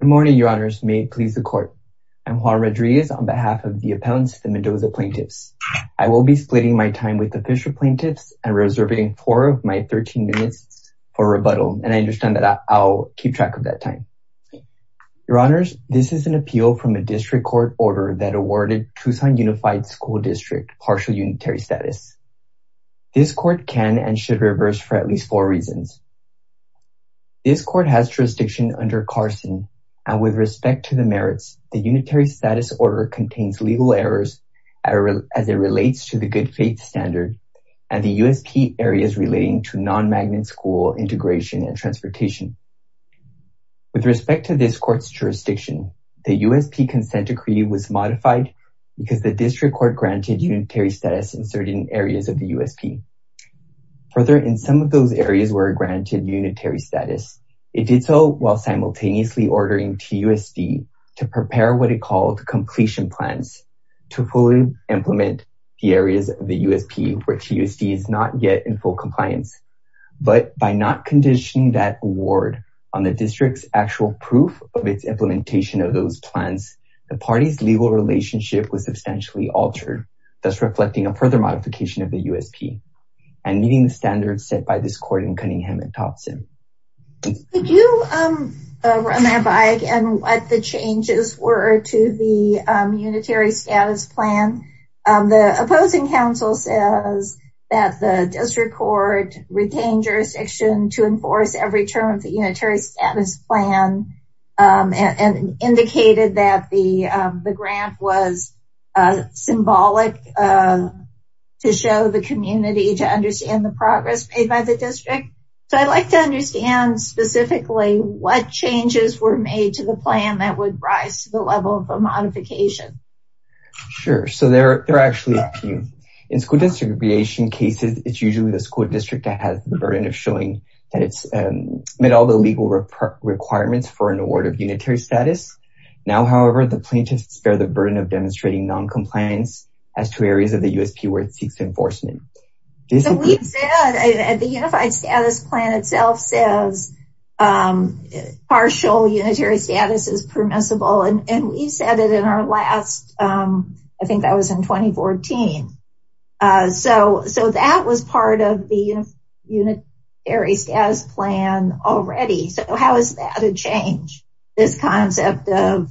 Good morning, your honors. May it please the court. I'm Juan Rodriguez on behalf of the appellants, the Mendoza plaintiffs. I will be splitting my time with the Fisher plaintiffs and reserving four of my 13 minutes for rebuttal and I understand that I'll keep track of that time. Your honors, this is an appeal from a district court order that awarded Tucson Unified School District partial unitary status. This court can and should reverse for at least four reasons. This court has jurisdiction under Carson and with respect to the merits, the unitary status order contains legal errors as it relates to the good faith standard and the USP areas relating to non-magnet school integration and transportation. With respect to this court's jurisdiction, the USP consent decree was modified because the district court granted unitary status in certain the USP. Further, in some of those areas were granted unitary status. It did so while simultaneously ordering TUSD to prepare what it called completion plans to fully implement the areas of the USP where TUSD is not yet in full compliance. But by not conditioning that award on the district's actual proof of its implementation of those plans, the party's relationship was substantially altered, thus reflecting a further modification of the USP and meeting the standards set by this court in Cunningham and Thompson. Could you run by again what the changes were to the unitary status plan? The opposing council says that the district court retained jurisdiction to enforce every term of the unitary status plan and indicated that the the grant was symbolic to show the community to understand the progress made by the district. So I'd like to understand specifically what changes were made to the plan that would rise to the level of a modification. Sure, so there are actually a few. In school distribution cases, it's usually the school district that has the burden of showing that it's met all the legal requirements for an award of unitary status. Now, however, the plaintiffs bear the burden of demonstrating non-compliance as to areas of the USP where it seeks enforcement. The unified status plan itself says partial unitary status is permissible and we've said it in our last, I think that was in 2014. So that was part of the unitary status plan already. So how is that a change, this concept of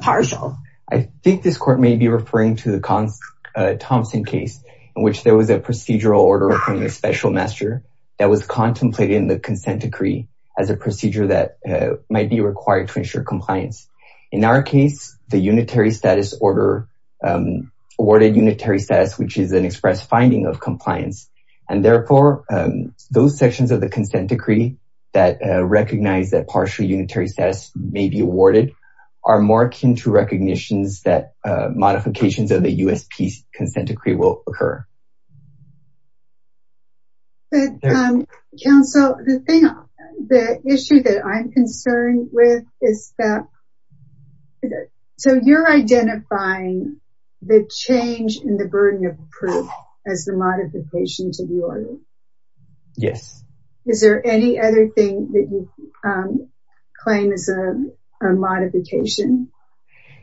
partial? I think this court may be referring to the Thompson case in which there was a procedural order from the special master that was contemplated in the consent decree as a procedure that might be awarded unitary status, which is an express finding of compliance. And therefore, those sections of the consent decree that recognize that partial unitary status may be awarded are more akin to recognitions that modifications of the USP consent decree will occur. But counsel, the thing, the issue that I'm concerned with is that, so you're identifying the change in the burden of proof as the modification to the order. Yes. Is there any other thing that you claim is a modification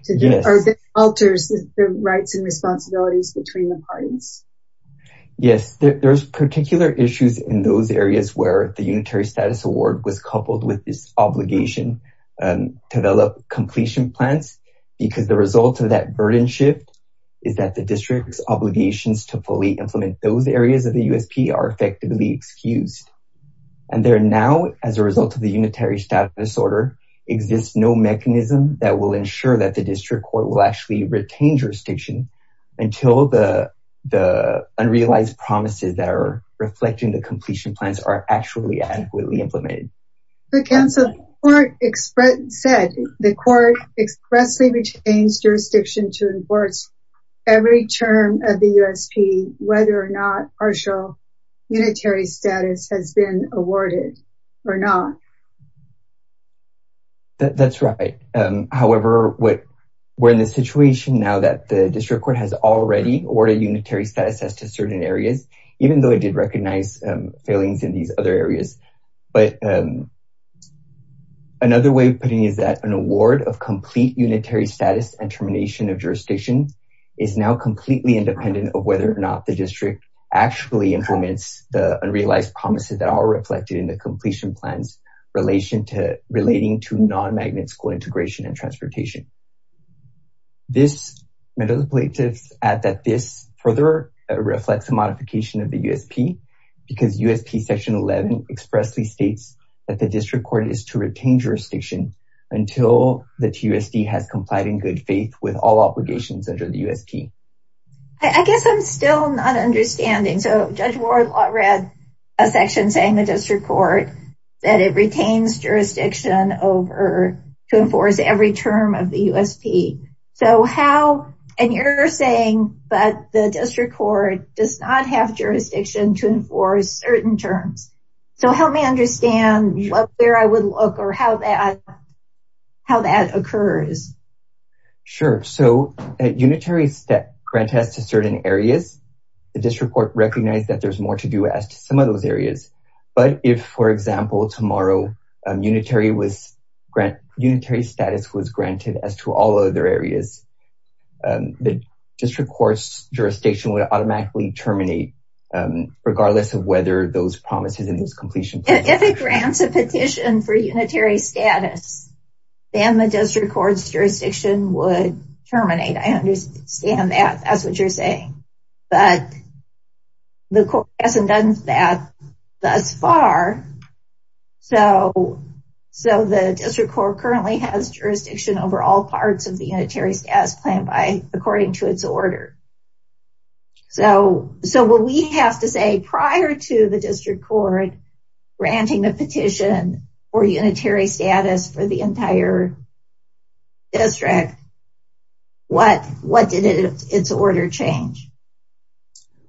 or that alters the rights and responsibilities between the parties? Yes, there's particular issues in those areas where the unitary status award was coupled with this obligation to develop completion plans because the result of that burden shift is that the district's obligations to fully implement those areas of the USP are effectively excused. And there now, as a result of the unitary status order, exists no mechanism that will ensure that district court will actually retain jurisdiction until the unrealized promises that are reflecting the completion plans are actually adequately implemented. But counsel, the court expressly retains jurisdiction to enforce every term of the USP, whether or not partial unitary status has been awarded or not. That's right. However, we're in a situation now that the district court has already awarded unitary status to certain areas, even though it did recognize failings in these other areas. But another way of putting it is that an award of complete unitary status and termination of jurisdiction is now completely independent of whether or not the district actually implements the unrealized promises that are reflected in the completion plans relating to non-magnet school integration and transportation. This further reflects a modification of the USP because USP section 11 expressly states that the district court is to retain jurisdiction until the TUSD has complied in good faith with all obligations under the USP. I guess I'm still not understanding. So Judge Ward read a section saying the district court that it retains jurisdiction over to enforce every term of the USP. So how, and you're saying, but the district court does not have jurisdiction to enforce certain terms. So help me understand where I would look or how that occurs. Sure. So a unitary grant has to certain areas. The district court recognized that there's more to do as to some of those areas. But if, for example, tomorrow, unitary status was granted as to all other areas, the district court's jurisdiction would automatically terminate regardless of whether those promises in those completion plans. If it grants a petition for unitary status, then the district court's jurisdiction would terminate. I understand that. That's what you're saying. But the court hasn't done that thus far. So the district court currently has jurisdiction over all parts of the unitary status plan by, according to its order. So what we have to say prior to the district court granting the petition for unitary status for the entire district, what did its order change?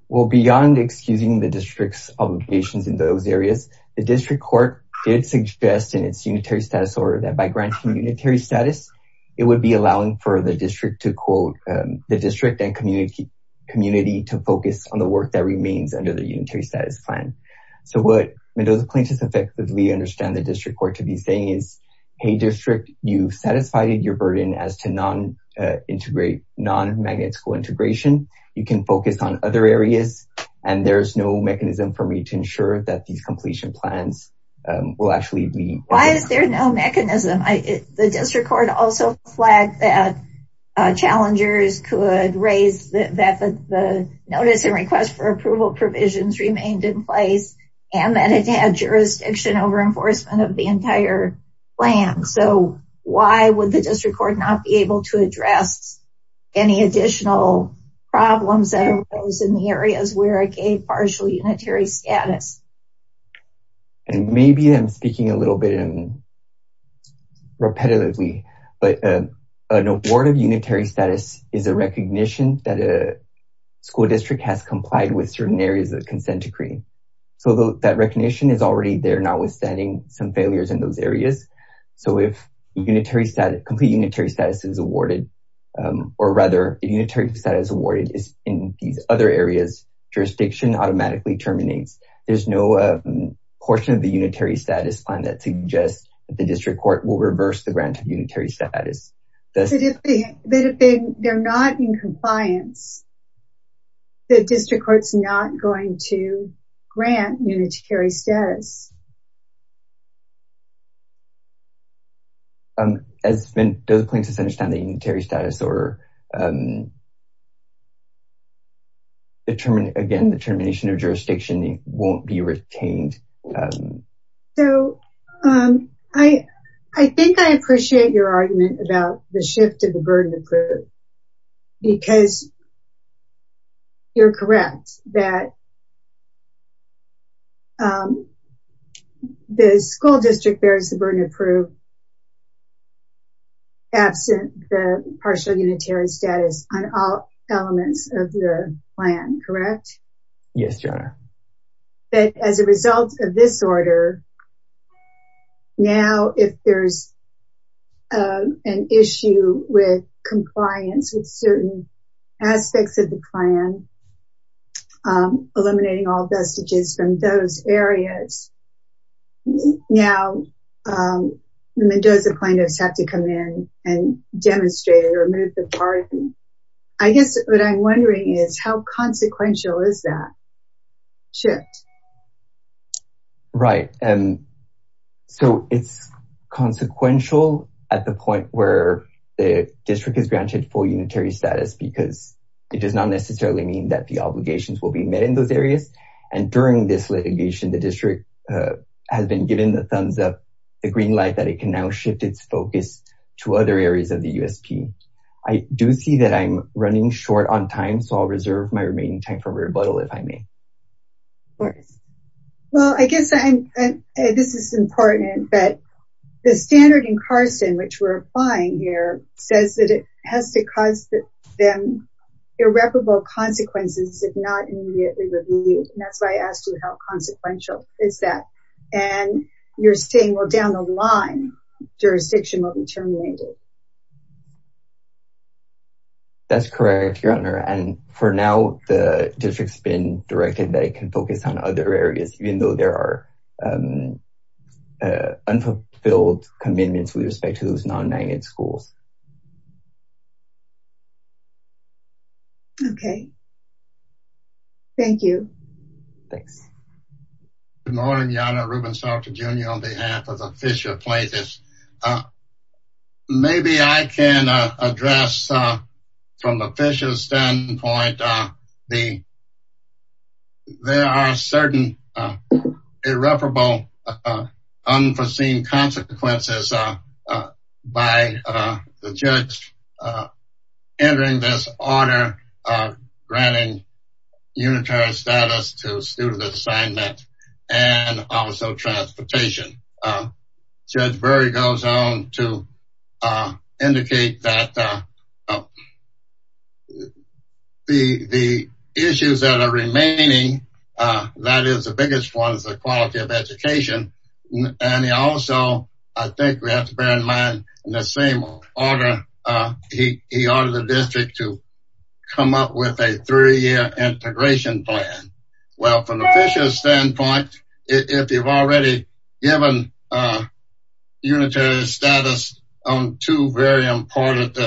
Well, beyond excusing the district's obligations in those areas, the district court did suggest in its unitary status order that by granting unitary status, it would be allowing for the district and community to focus on the work that remains under the unitary status plan. So what Mendoza plaintiffs effectively understand the district court to be saying is, hey district, you've satisfied your burden as to non-integrate, non-magnetical integration. You can focus on other areas. And there's no mechanism for me to ensure that these completion plans will actually be... Why is there no mechanism? The district court also flagged that challengers could raise that the notice and request for approval provisions remained in place and that it had jurisdiction over enforcement of the entire plan. So why would the district court not be able to address any additional problems that arose in the areas where it gave partial unitary status? And maybe I'm speaking a little bit repetitively, but an award of unitary status is a recognition that a school district has complied with certain areas of the consent decree. So that recognition is already there, notwithstanding some failures in those areas. So if complete unitary status is awarded, or rather unitary status awarded in these other areas, jurisdiction automatically terminates. There's no portion of the unitary status plan that suggests the district court will reverse the grant of unitary status. But if they're not in compliance, the district court's not going to grant unitary status. Does plaintiffs understand the unitary status or again, the termination of jurisdiction won't be retained? So I think I appreciate your argument about the shift of the burden of proof, because you're correct that the school district bears the burden of proof absent the partial unitary status on all elements of your plan, correct? Yes, your honor. But as a result of this order, now if there's an issue with compliance with certain aspects of the plan, eliminating all vestiges from those areas, now the Mendoza plaintiffs have to come in and demonstrate or move the burden. I guess what I'm wondering is how consequential is that shift? Right. So it's consequential at the point where the district is granted full unitary status because it does not necessarily mean that the obligations will be met in those areas. And during this litigation, the district has been given the thumbs up, the green light that it can now shift its focus to other areas of the USP. I do see that I'm short on time, so I'll reserve my remaining time for rebuttal if I may. Of course. Well, I guess this is important, but the standard in Carson, which we're applying here, says that it has to cause them irreparable consequences if not immediately reviewed. And that's why I asked you how consequential is that? And you're saying, well, down the line, jurisdiction will be terminated. That's correct, your honor. And for now, the district's been directed that it can focus on other areas, even though there are unfulfilled commitments with respect to those non-negative schools. Okay. Thank you. Thanks. Good morning, Yonah Ruben Salter, Jr. on behalf of the Fisher Plaintiffs. Maybe I can address from a Fisher standpoint, there are certain irreparable unforeseen consequences by the judge entering this order, granting unitary status to student assignment and also transportation. Judge Berry goes on to indicate that the issues that are remaining, that is the biggest one, is the quality of education. And he also, I think we have to bear in mind in the same order, he ordered the district to come up with a three-year integration plan. Well, from the Fisher standpoint, if you've already given unitary status on two very important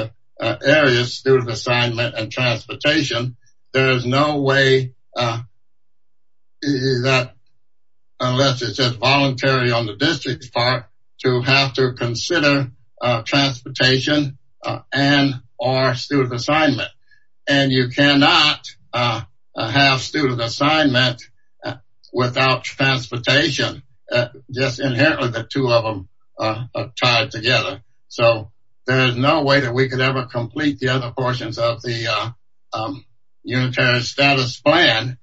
areas, student assignment and transportation, there is no way that, unless it's just voluntary on the district's part, to have to consider transportation and or student assignment. And you cannot have student assignment without transportation, just inherently the two of them tied together. So there is no way that we could ever complete the other portions of the unitary status plan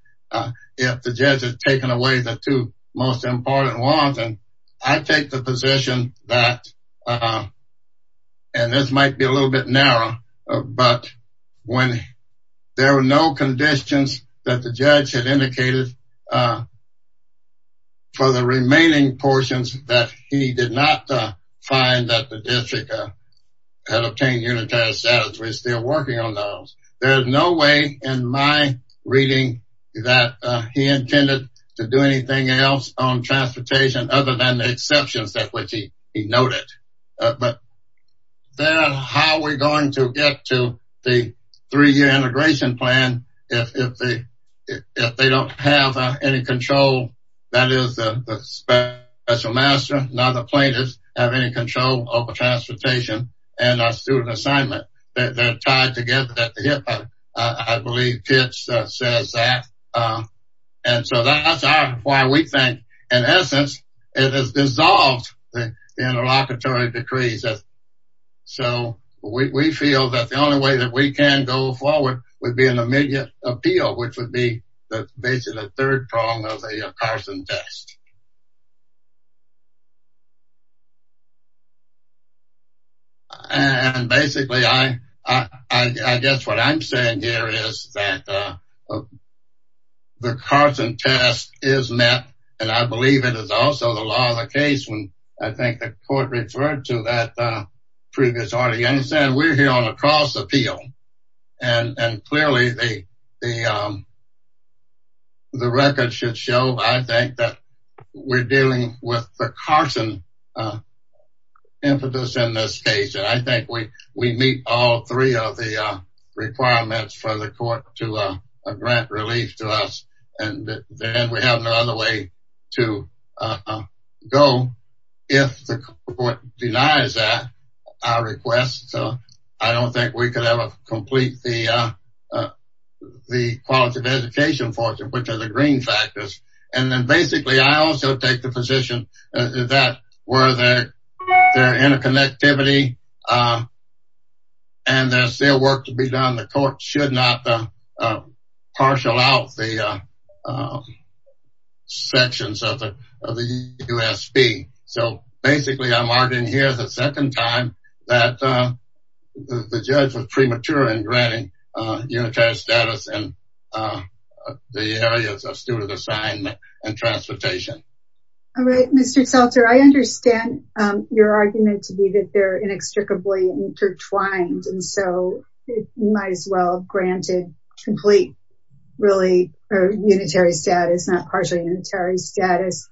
if the judge has taken away the two most important ones. And I take the position that, and this might be a little bit narrow, but when there were no conditions that the judge had indicated for the remaining portions that he did not find that the district had obtained unitary status, we're still working on those. There's no way in my reading that he other than the exceptions that he noted. But then how are we going to get to the three-year integration plan if they don't have any control? That is the special master, not the plaintiffs, have any control over transportation and our student assignment. They're tied together. I believe Pitts says that. And so that's why we think, in essence, it has dissolved the interlocutory decrees. So we feel that the only way that we can go forward would be an immediate appeal, which would be basically the third prong of the Carson test. And basically, I guess what I'm saying here is that the Carson test is met, and I believe it is also the law of the case when I think the court referred to that previous audience, and we're here on a cross appeal. And clearly, the record should show, I think, that we're dealing with the Carson impetus in this case. And I think we meet all three of the three requirements. And I think we're going to go, if the court denies that, our request. I don't think we could ever complete the quality of education for them, which are the green factors. And then basically, I also take the position that where there's interconnectivity, and there's still work to be done, the court should not partial out the sections of the USP. So basically, I'm arguing here the second time that the judge was premature in granting unitary status in the areas of student assignment and transportation. All right, Mr. Seltzer, I understand your argument to be that they're inextricably intertwined. And so it might as well granted complete, really, or unitary status, not partially unitary status.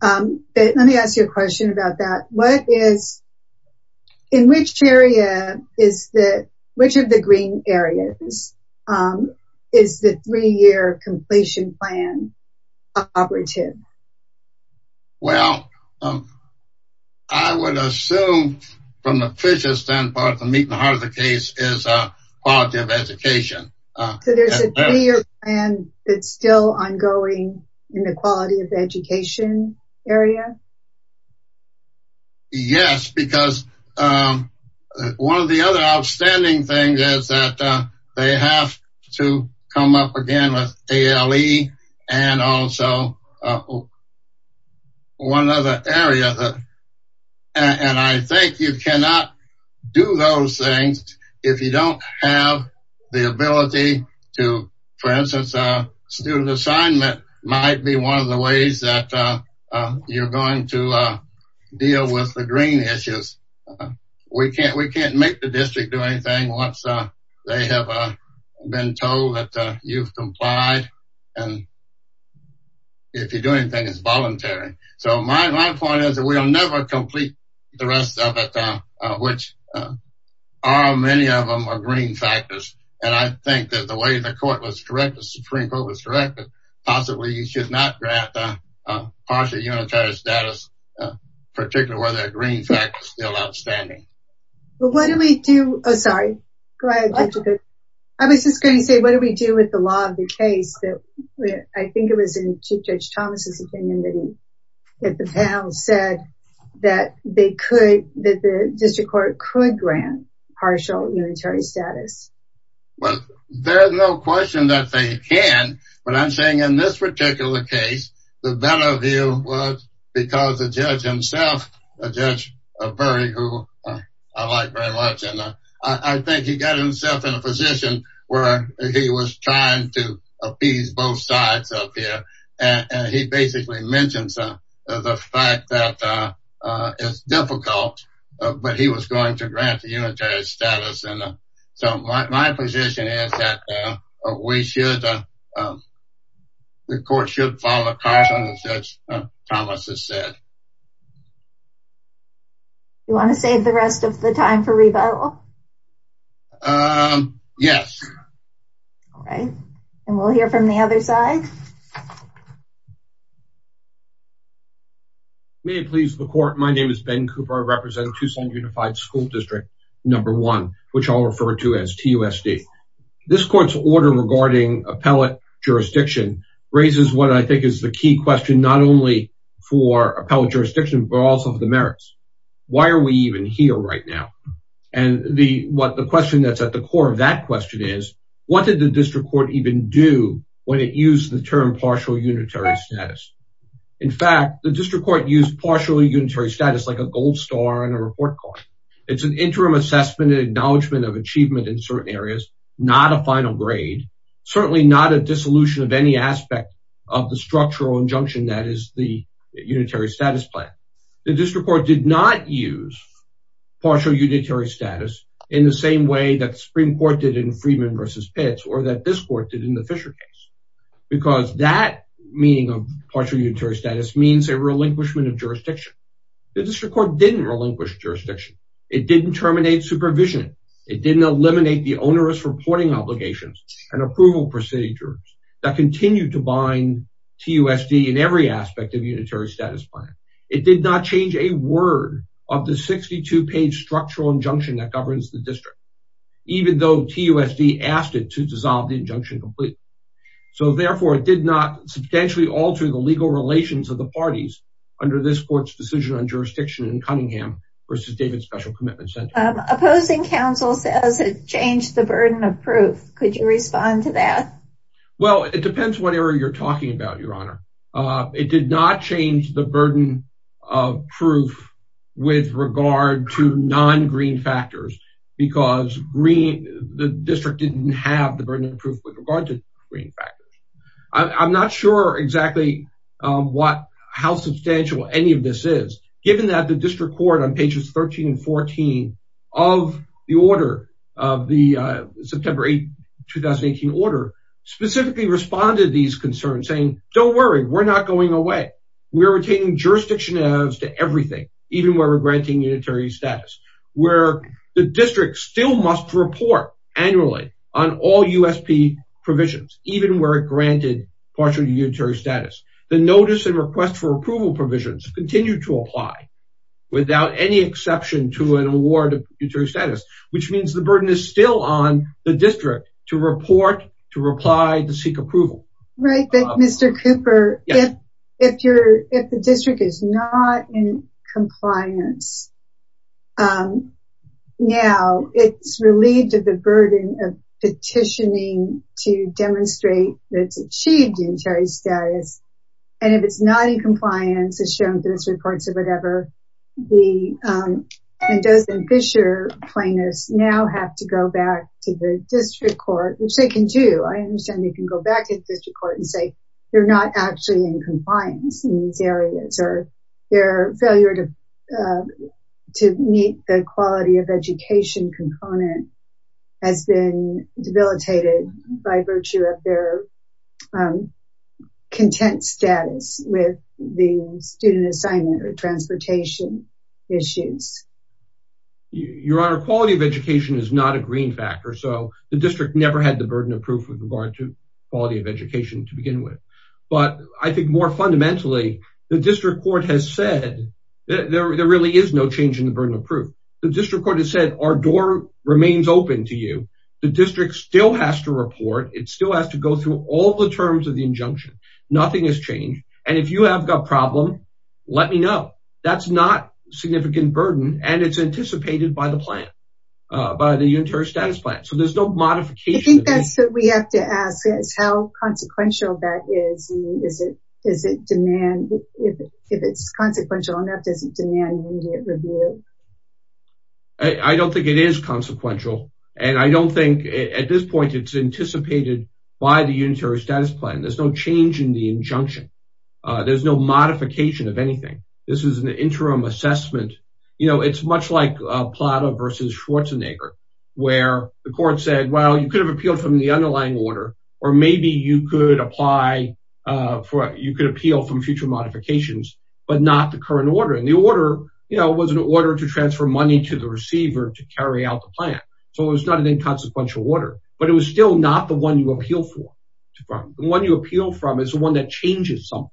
But let me ask you a question about that. What is, in which area is the, which of the green areas is the three year completion plan operative? Well, I would assume from the Fisher's standpoint, the meat and heart of the case is quality of education. So there's a three year plan that's still ongoing in the quality of education area? Yes, because one of the other outstanding things is that they have to come up again with ALE and also one other area. And I think you cannot do those things if you don't have the ability to, for instance, student assignment might be one of the ways that you're going to deal with the green issues. We can't make the district do anything once they have been told that you've complied. And if you do anything, it's voluntary. So my point is that we'll never complete the rest of it, which are many of them are green factors. And I think that the way the court was correct, the Supreme Court was correct. Possibly you should not grant partially unitary status, particularly where they're green factors still outstanding. Well, what do we do? Oh, sorry. I was just going to say, what do we do with the law of the case that I think it was in Chief Judge Thomas's opinion that the panel said that they could, that the district court could grant partial unitary status? Well, there's no question that they can. But I'm saying in this particular case, the better view was because the judge himself, Judge Burry, who I like very much. And I think he got himself in a position where he was trying to appease both sides up here. And he basically mentioned the fact that it's difficult, but he was going to grant the unitary status. And so my position is that we should, the court should follow caution, as Judge Thomas has said. You want to save the rest of the time for rebuttal? Yes. All right. And we'll hear from the other side. May it please the court. My name is Ben Cooper. I represent Tucson Unified School District number one, which I'll refer to as TUSD. This court's order regarding appellate jurisdiction raises what I think is the key question, not only for appellate jurisdiction, but also for the merits. Why are we even here right now? And the question that's at the core of that question is, what did the district court even do when it used the term partial unitary status? In fact, the district court used partial unitary status like a gold star in a report card. It's an interim assessment and acknowledgement of achievement in certain areas, not a final grade, certainly not a dissolution of any aspect of the structural injunction that is the unitary status plan. The district court did not use partial unitary status in the same way that the Supreme Court did in Freeman versus Pitts or that this court did in the Fisher case, because that meaning of partial unitary status means a relinquishment of jurisdiction. The district court didn't relinquish jurisdiction. It didn't terminate supervision. It didn't eliminate the onerous reporting obligations and approval procedures that continue to bind TUSD in every aspect of unitary status plan. It did not change a word of the 62 page structural injunction that governs the district, even though TUSD asked it to dissolve the injunction completely. So therefore it did not substantially alter the legal relations of parties under this court's decision on jurisdiction in Cunningham versus David Special Commitment Center. Opposing counsel says it changed the burden of proof. Could you respond to that? Well, it depends whatever you're talking about, Your Honor. It did not change the burden of proof with regard to non-green factors, because the district didn't have the burden of proof with regard to green factors. I'm not sure exactly how substantial any of this is, given that the district court on pages 13 and 14 of the September 2018 order specifically responded to these concerns saying, don't worry, we're not going away. We're retaining jurisdiction to everything, even where we're granting unitary status, where the district still must report annually on all USP provisions, even where it granted partial unitary status. The notice and request for approval provisions continue to apply without any exception to an award of unitary status, which means the burden is still on the district to report, to reply, to seek approval. Right, but Mr. Cooper, if the district is not in compliance now, it's relieved of the burden of petitioning to demonstrate that it's achieved unitary status, and if it's not in compliance, it's shown to the district courts or whatever, the Mendoza and Fisher plaintiffs now have to go back to the district court, which they can do. I understand they can go back to the district court and say they're not actually in compliance in these areas, or their failure to meet the quality of education component has been debilitated by virtue of their content status with the student assignment or transportation issues. Your Honor, quality of education is not a green factor, so the district never had the burden of proof with regard to quality of education to begin with. But I think more fundamentally, the district court has said there really is no change in the burden of proof. The district court has said our door remains open to you. The district still has to report. It still has to go through all the terms of the injunction. Nothing has changed, and if you have a problem, let me know. That's not a significant burden, and it's anticipated by the plan, by the unitary status plan, so there's no modification. I think that's what we have to ask. How consequential that is, and if it's consequential enough, does it demand immediate review? I don't think it is consequential, and I don't think at this point it's anticipated by the unitary status plan. There's no change in the injunction. There's no modification of anything. This is an interim assessment. It's much like Plata v. Schwarzenegger, where the court said, well, you could have appealed from the underlying order, or maybe you could appeal from future modifications, but not the current order, and the order was an order to transfer money to the receiver to carry out the plan, so it was not an inconsequential order, but it was still not the one you appeal from. The one you appeal from is the one that changes something,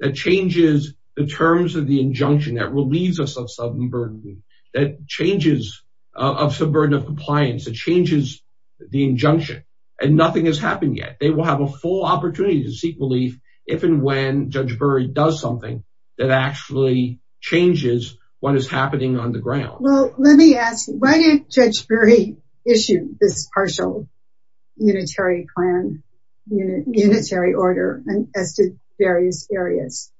that changes the terms of the compliance, that changes the injunction, and nothing has happened yet. They will have a full opportunity to seek relief if and when Judge Bury does something that actually changes what is happening on the ground. Well, let me ask, why did Judge Bury issue this partial unitary plan, unitary order as to various areas?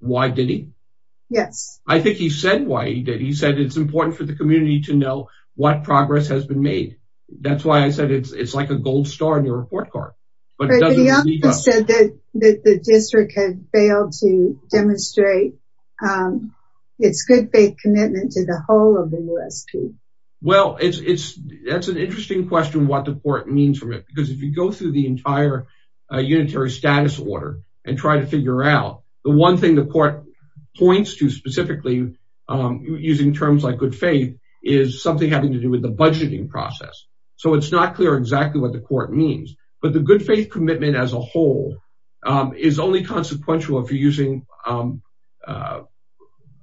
Why did he? Yes. I think he said why he did. He said it's important for the community to know what progress has been made. That's why I said it's like a gold star in your report card. But he also said that the district had failed to demonstrate its good faith commitment to the whole of the USP. Well, that's an interesting question what the court means from it, because if you go through the entire unitary status order and try to figure out, the one thing the court points to specifically, using terms like good faith, is something having to do with the budgeting process. So it's not clear exactly what the court means. But the good faith commitment as a whole is only consequential if you're using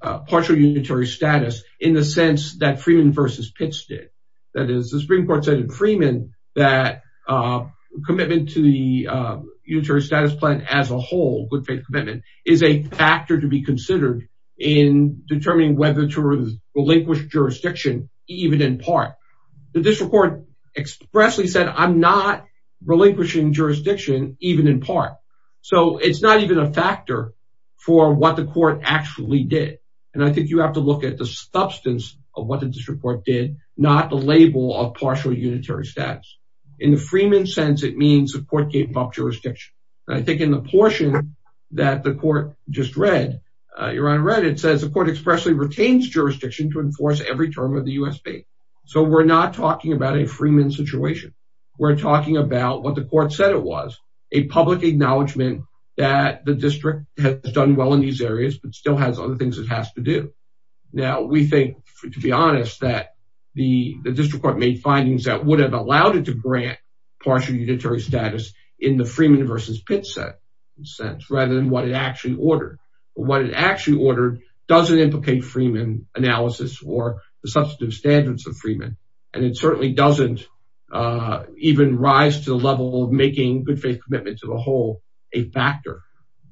partial unitary status in the sense that Freeman versus Pitts did. That is, the Supreme Court said in Freeman that commitment to unitary status plan as a whole, good faith commitment, is a factor to be considered in determining whether to relinquish jurisdiction even in part. The district court expressly said, I'm not relinquishing jurisdiction even in part. So it's not even a factor for what the court actually did. And I think you have to look at the substance of what the district court did, not the label of partial unitary status. In the Freeman sense, it means the court gave up jurisdiction. I think in the portion that the court just read, it says the court expressly retains jurisdiction to enforce every term of the USP. So we're not talking about a Freeman situation. We're talking about what the court said it was, a public acknowledgement that the district has done well in these areas, but still has other things it has to do. Now, we think, to be honest, that the district court made findings that would have allowed it to grant partial unitary status in the Freeman versus Pitts sense, rather than what it actually ordered. But what it actually ordered doesn't implicate Freeman analysis or the substantive standards of Freeman. And it certainly doesn't even rise to the level of making good faith commitment to the whole a factor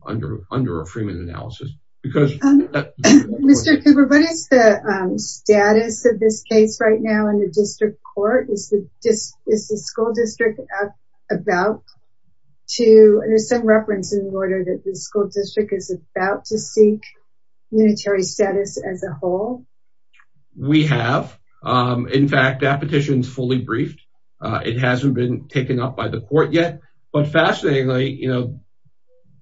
under Freeman analysis. Mr. Cooper, what is the status of this case right now in the district court? Is the school district about to, there's some reference in the order that the school district is about to seek unitary status as a whole? We have. In fact, that petition is fully briefed. It hasn't been taken up by the court yet. But fascinatingly, you know,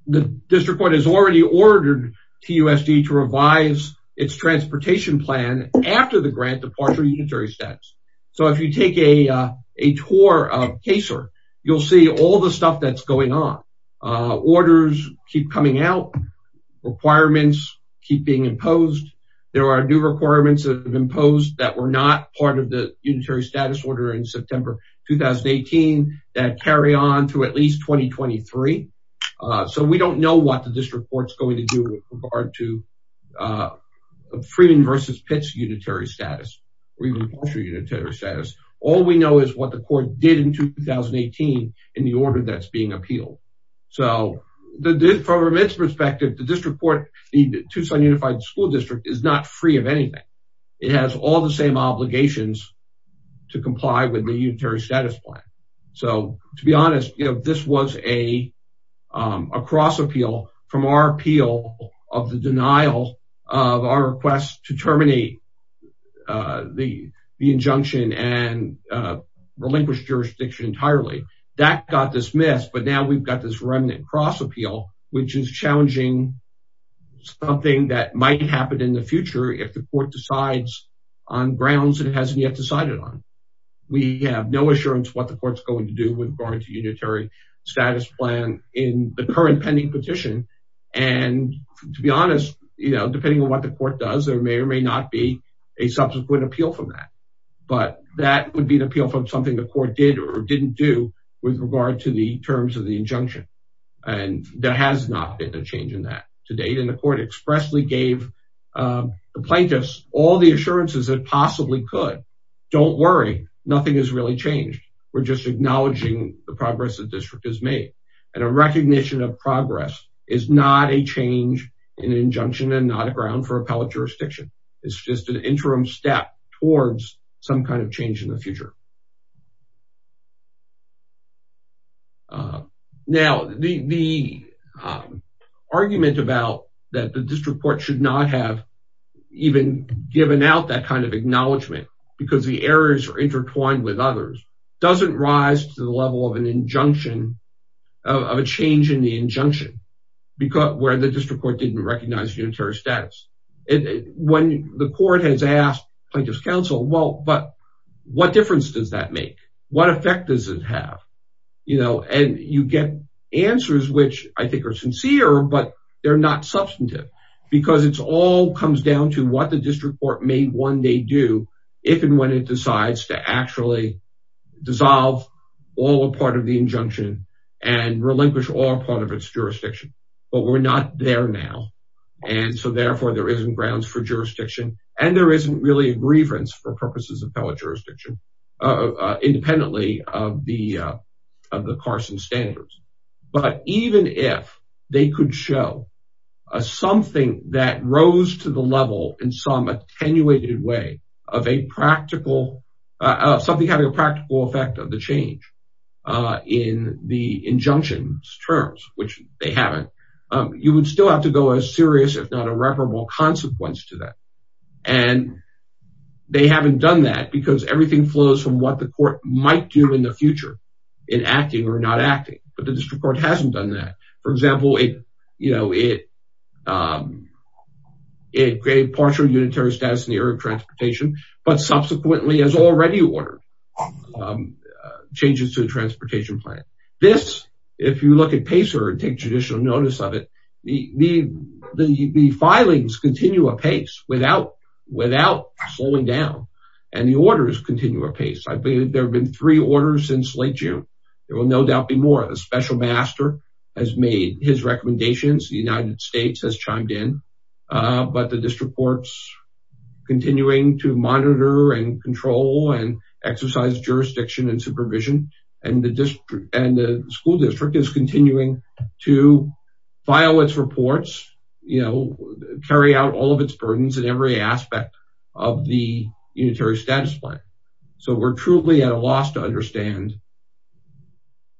the district court has already ordered TUSD to revise its transportation plan after the grant of partial unitary status. So if you take a tour of CASER, you'll see all the stuff that's going on. Orders keep coming out. Requirements keep being imposed. There are new requirements that have been imposed that were not part of the unitary status order in September 2018 that carry on through at least 2023. So we don't know what the district court's going to do with regard to Freeman versus Pitts unitary status or even partial unitary status. All we know is what the court did in 2018 in the order that's being appealed. So from its perspective, the district court, the Tucson Unified School District is not free of anything. It has all the same obligations to comply with the unitary status plan. So to be honest, you know, this was a cross appeal from our appeal of the denial of our request to terminate the injunction and relinquish jurisdiction entirely. That got dismissed. But now we've got this remnant cross appeal, which is challenging something that might happen in the future if the court decides on grounds that it hasn't yet decided on. We have no assurance what the court's going to do with regard to unitary status plan in the current pending petition. And to be honest, you know, depending on what the court does, there may or may not be a subsequent appeal from that. But that would be an appeal from something the court did or didn't do with regard to the terms of the injunction. And there has not been a change in that to date. And the court expressly gave the plaintiffs all the assurances that possibly could. Don't worry, nothing has really changed. We're just acknowledging the progress the district has made. And a recognition of progress is not a change in an injunction and not a ground for appellate jurisdiction. It's just an interim step towards some kind of change in the future. Now, the argument about that the district court should not have even given out that kind of acknowledgement because the errors are intertwined with others doesn't rise to the level of an change in the injunction where the district court didn't recognize unitary status. When the court has asked plaintiffs counsel, well, but what difference does that make? What effect does it have? You know, and you get answers which I think are sincere, but they're not substantive because it's all comes down to what the district court may one day do if and when it decides to actually dissolve all a part of the injunction and relinquish all part of its jurisdiction. And there isn't really a grievance for purposes of appellate jurisdiction, independently of the Carson standards. But even if they could show something that rose to the level in some attenuated way of a practical, something having a practical effect of the change in the injunction terms, which they haven't, you would still have to go as serious if not irreparable consequence to that. And they haven't done that because everything flows from what the court might do in the future in acting or not acting. But the district court hasn't done that. For example, it created partial unitary status in the area of transportation, but subsequently has already ordered changes to the transportation plan. This, if you look at PACER and take judicial notice of the, the, the, the filings continue a pace without, without slowing down and the orders continue a pace. I believe there've been three orders since late June. There will no doubt be more. The special master has made his recommendations. The United States has chimed in, but the district courts continuing to monitor and control and exercise jurisdiction and supervision and the district and the school district is continuing to file its reports, you know, carry out all of its burdens in every aspect of the unitary status plan. So we're truly at a loss to understand,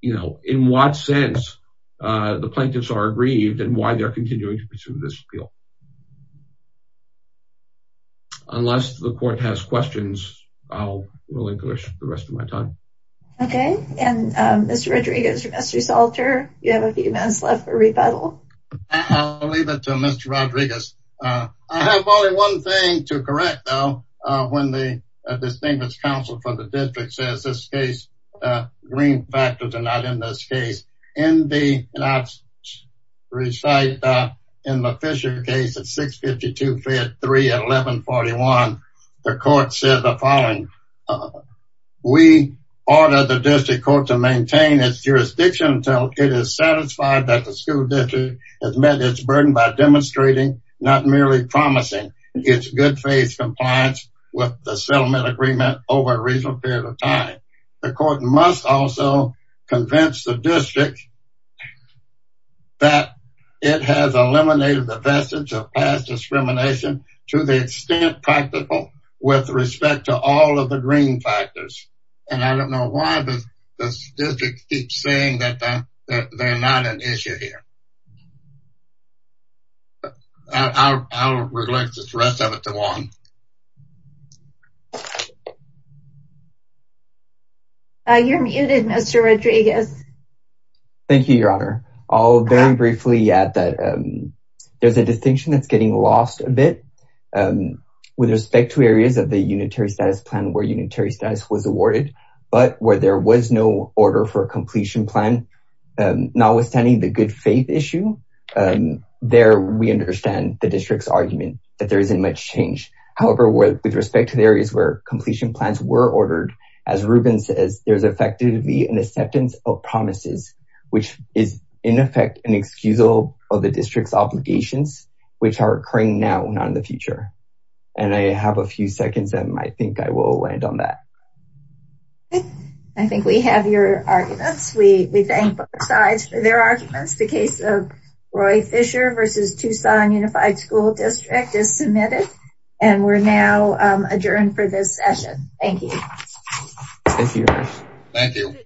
you know, in what sense the plaintiffs are aggrieved and why they're continuing to pursue this appeal. Unless the court has questions, I'll relinquish the rest of my time. Okay. And Mr. Rodriguez, Mr. Salter, you have a few minutes left for rebuttal. I'll leave it to Mr. Rodriguez. I have only one thing to correct though, when the distinguished counsel for the district says this case, green factors are not in this case. In the, and I recite in the Fisher case at 652-53-1141, the court said the following. Uh, we ordered the district court to maintain its jurisdiction until it is satisfied that the school district has met its burden by demonstrating not merely promising its good faith compliance with the settlement agreement over a reasonable period of time. The court must also convince the district that it has eliminated the vestige of past discrimination to the extent practical with respect to all of the green factors. And I don't know why the district keeps saying that they're not an issue here. I'll relinquish the rest of it to Juan. Uh, you're muted, Mr. Rodriguez. Thank you, your honor. I'll very briefly add that there's a distinction that's getting lost a bit with respect to areas of the unitary status plan where unitary status was awarded, but where there was no order for a completion plan, notwithstanding the good faith issue, there we understand the district's argument that there isn't much change. However, with respect to the areas where completion plans were ordered, as Ruben says, there's effectively an acceptance of promises, which is in effect an excusable of the district's obligations, which are occurring now, not in the future. And I have a few seconds and I think I will land on that. I think we have your arguments. We thank both sides for their arguments. The case of Roy Fisher versus Tucson Unified School District is submitted and we're now adjourned for this session. Thank you. Thank you.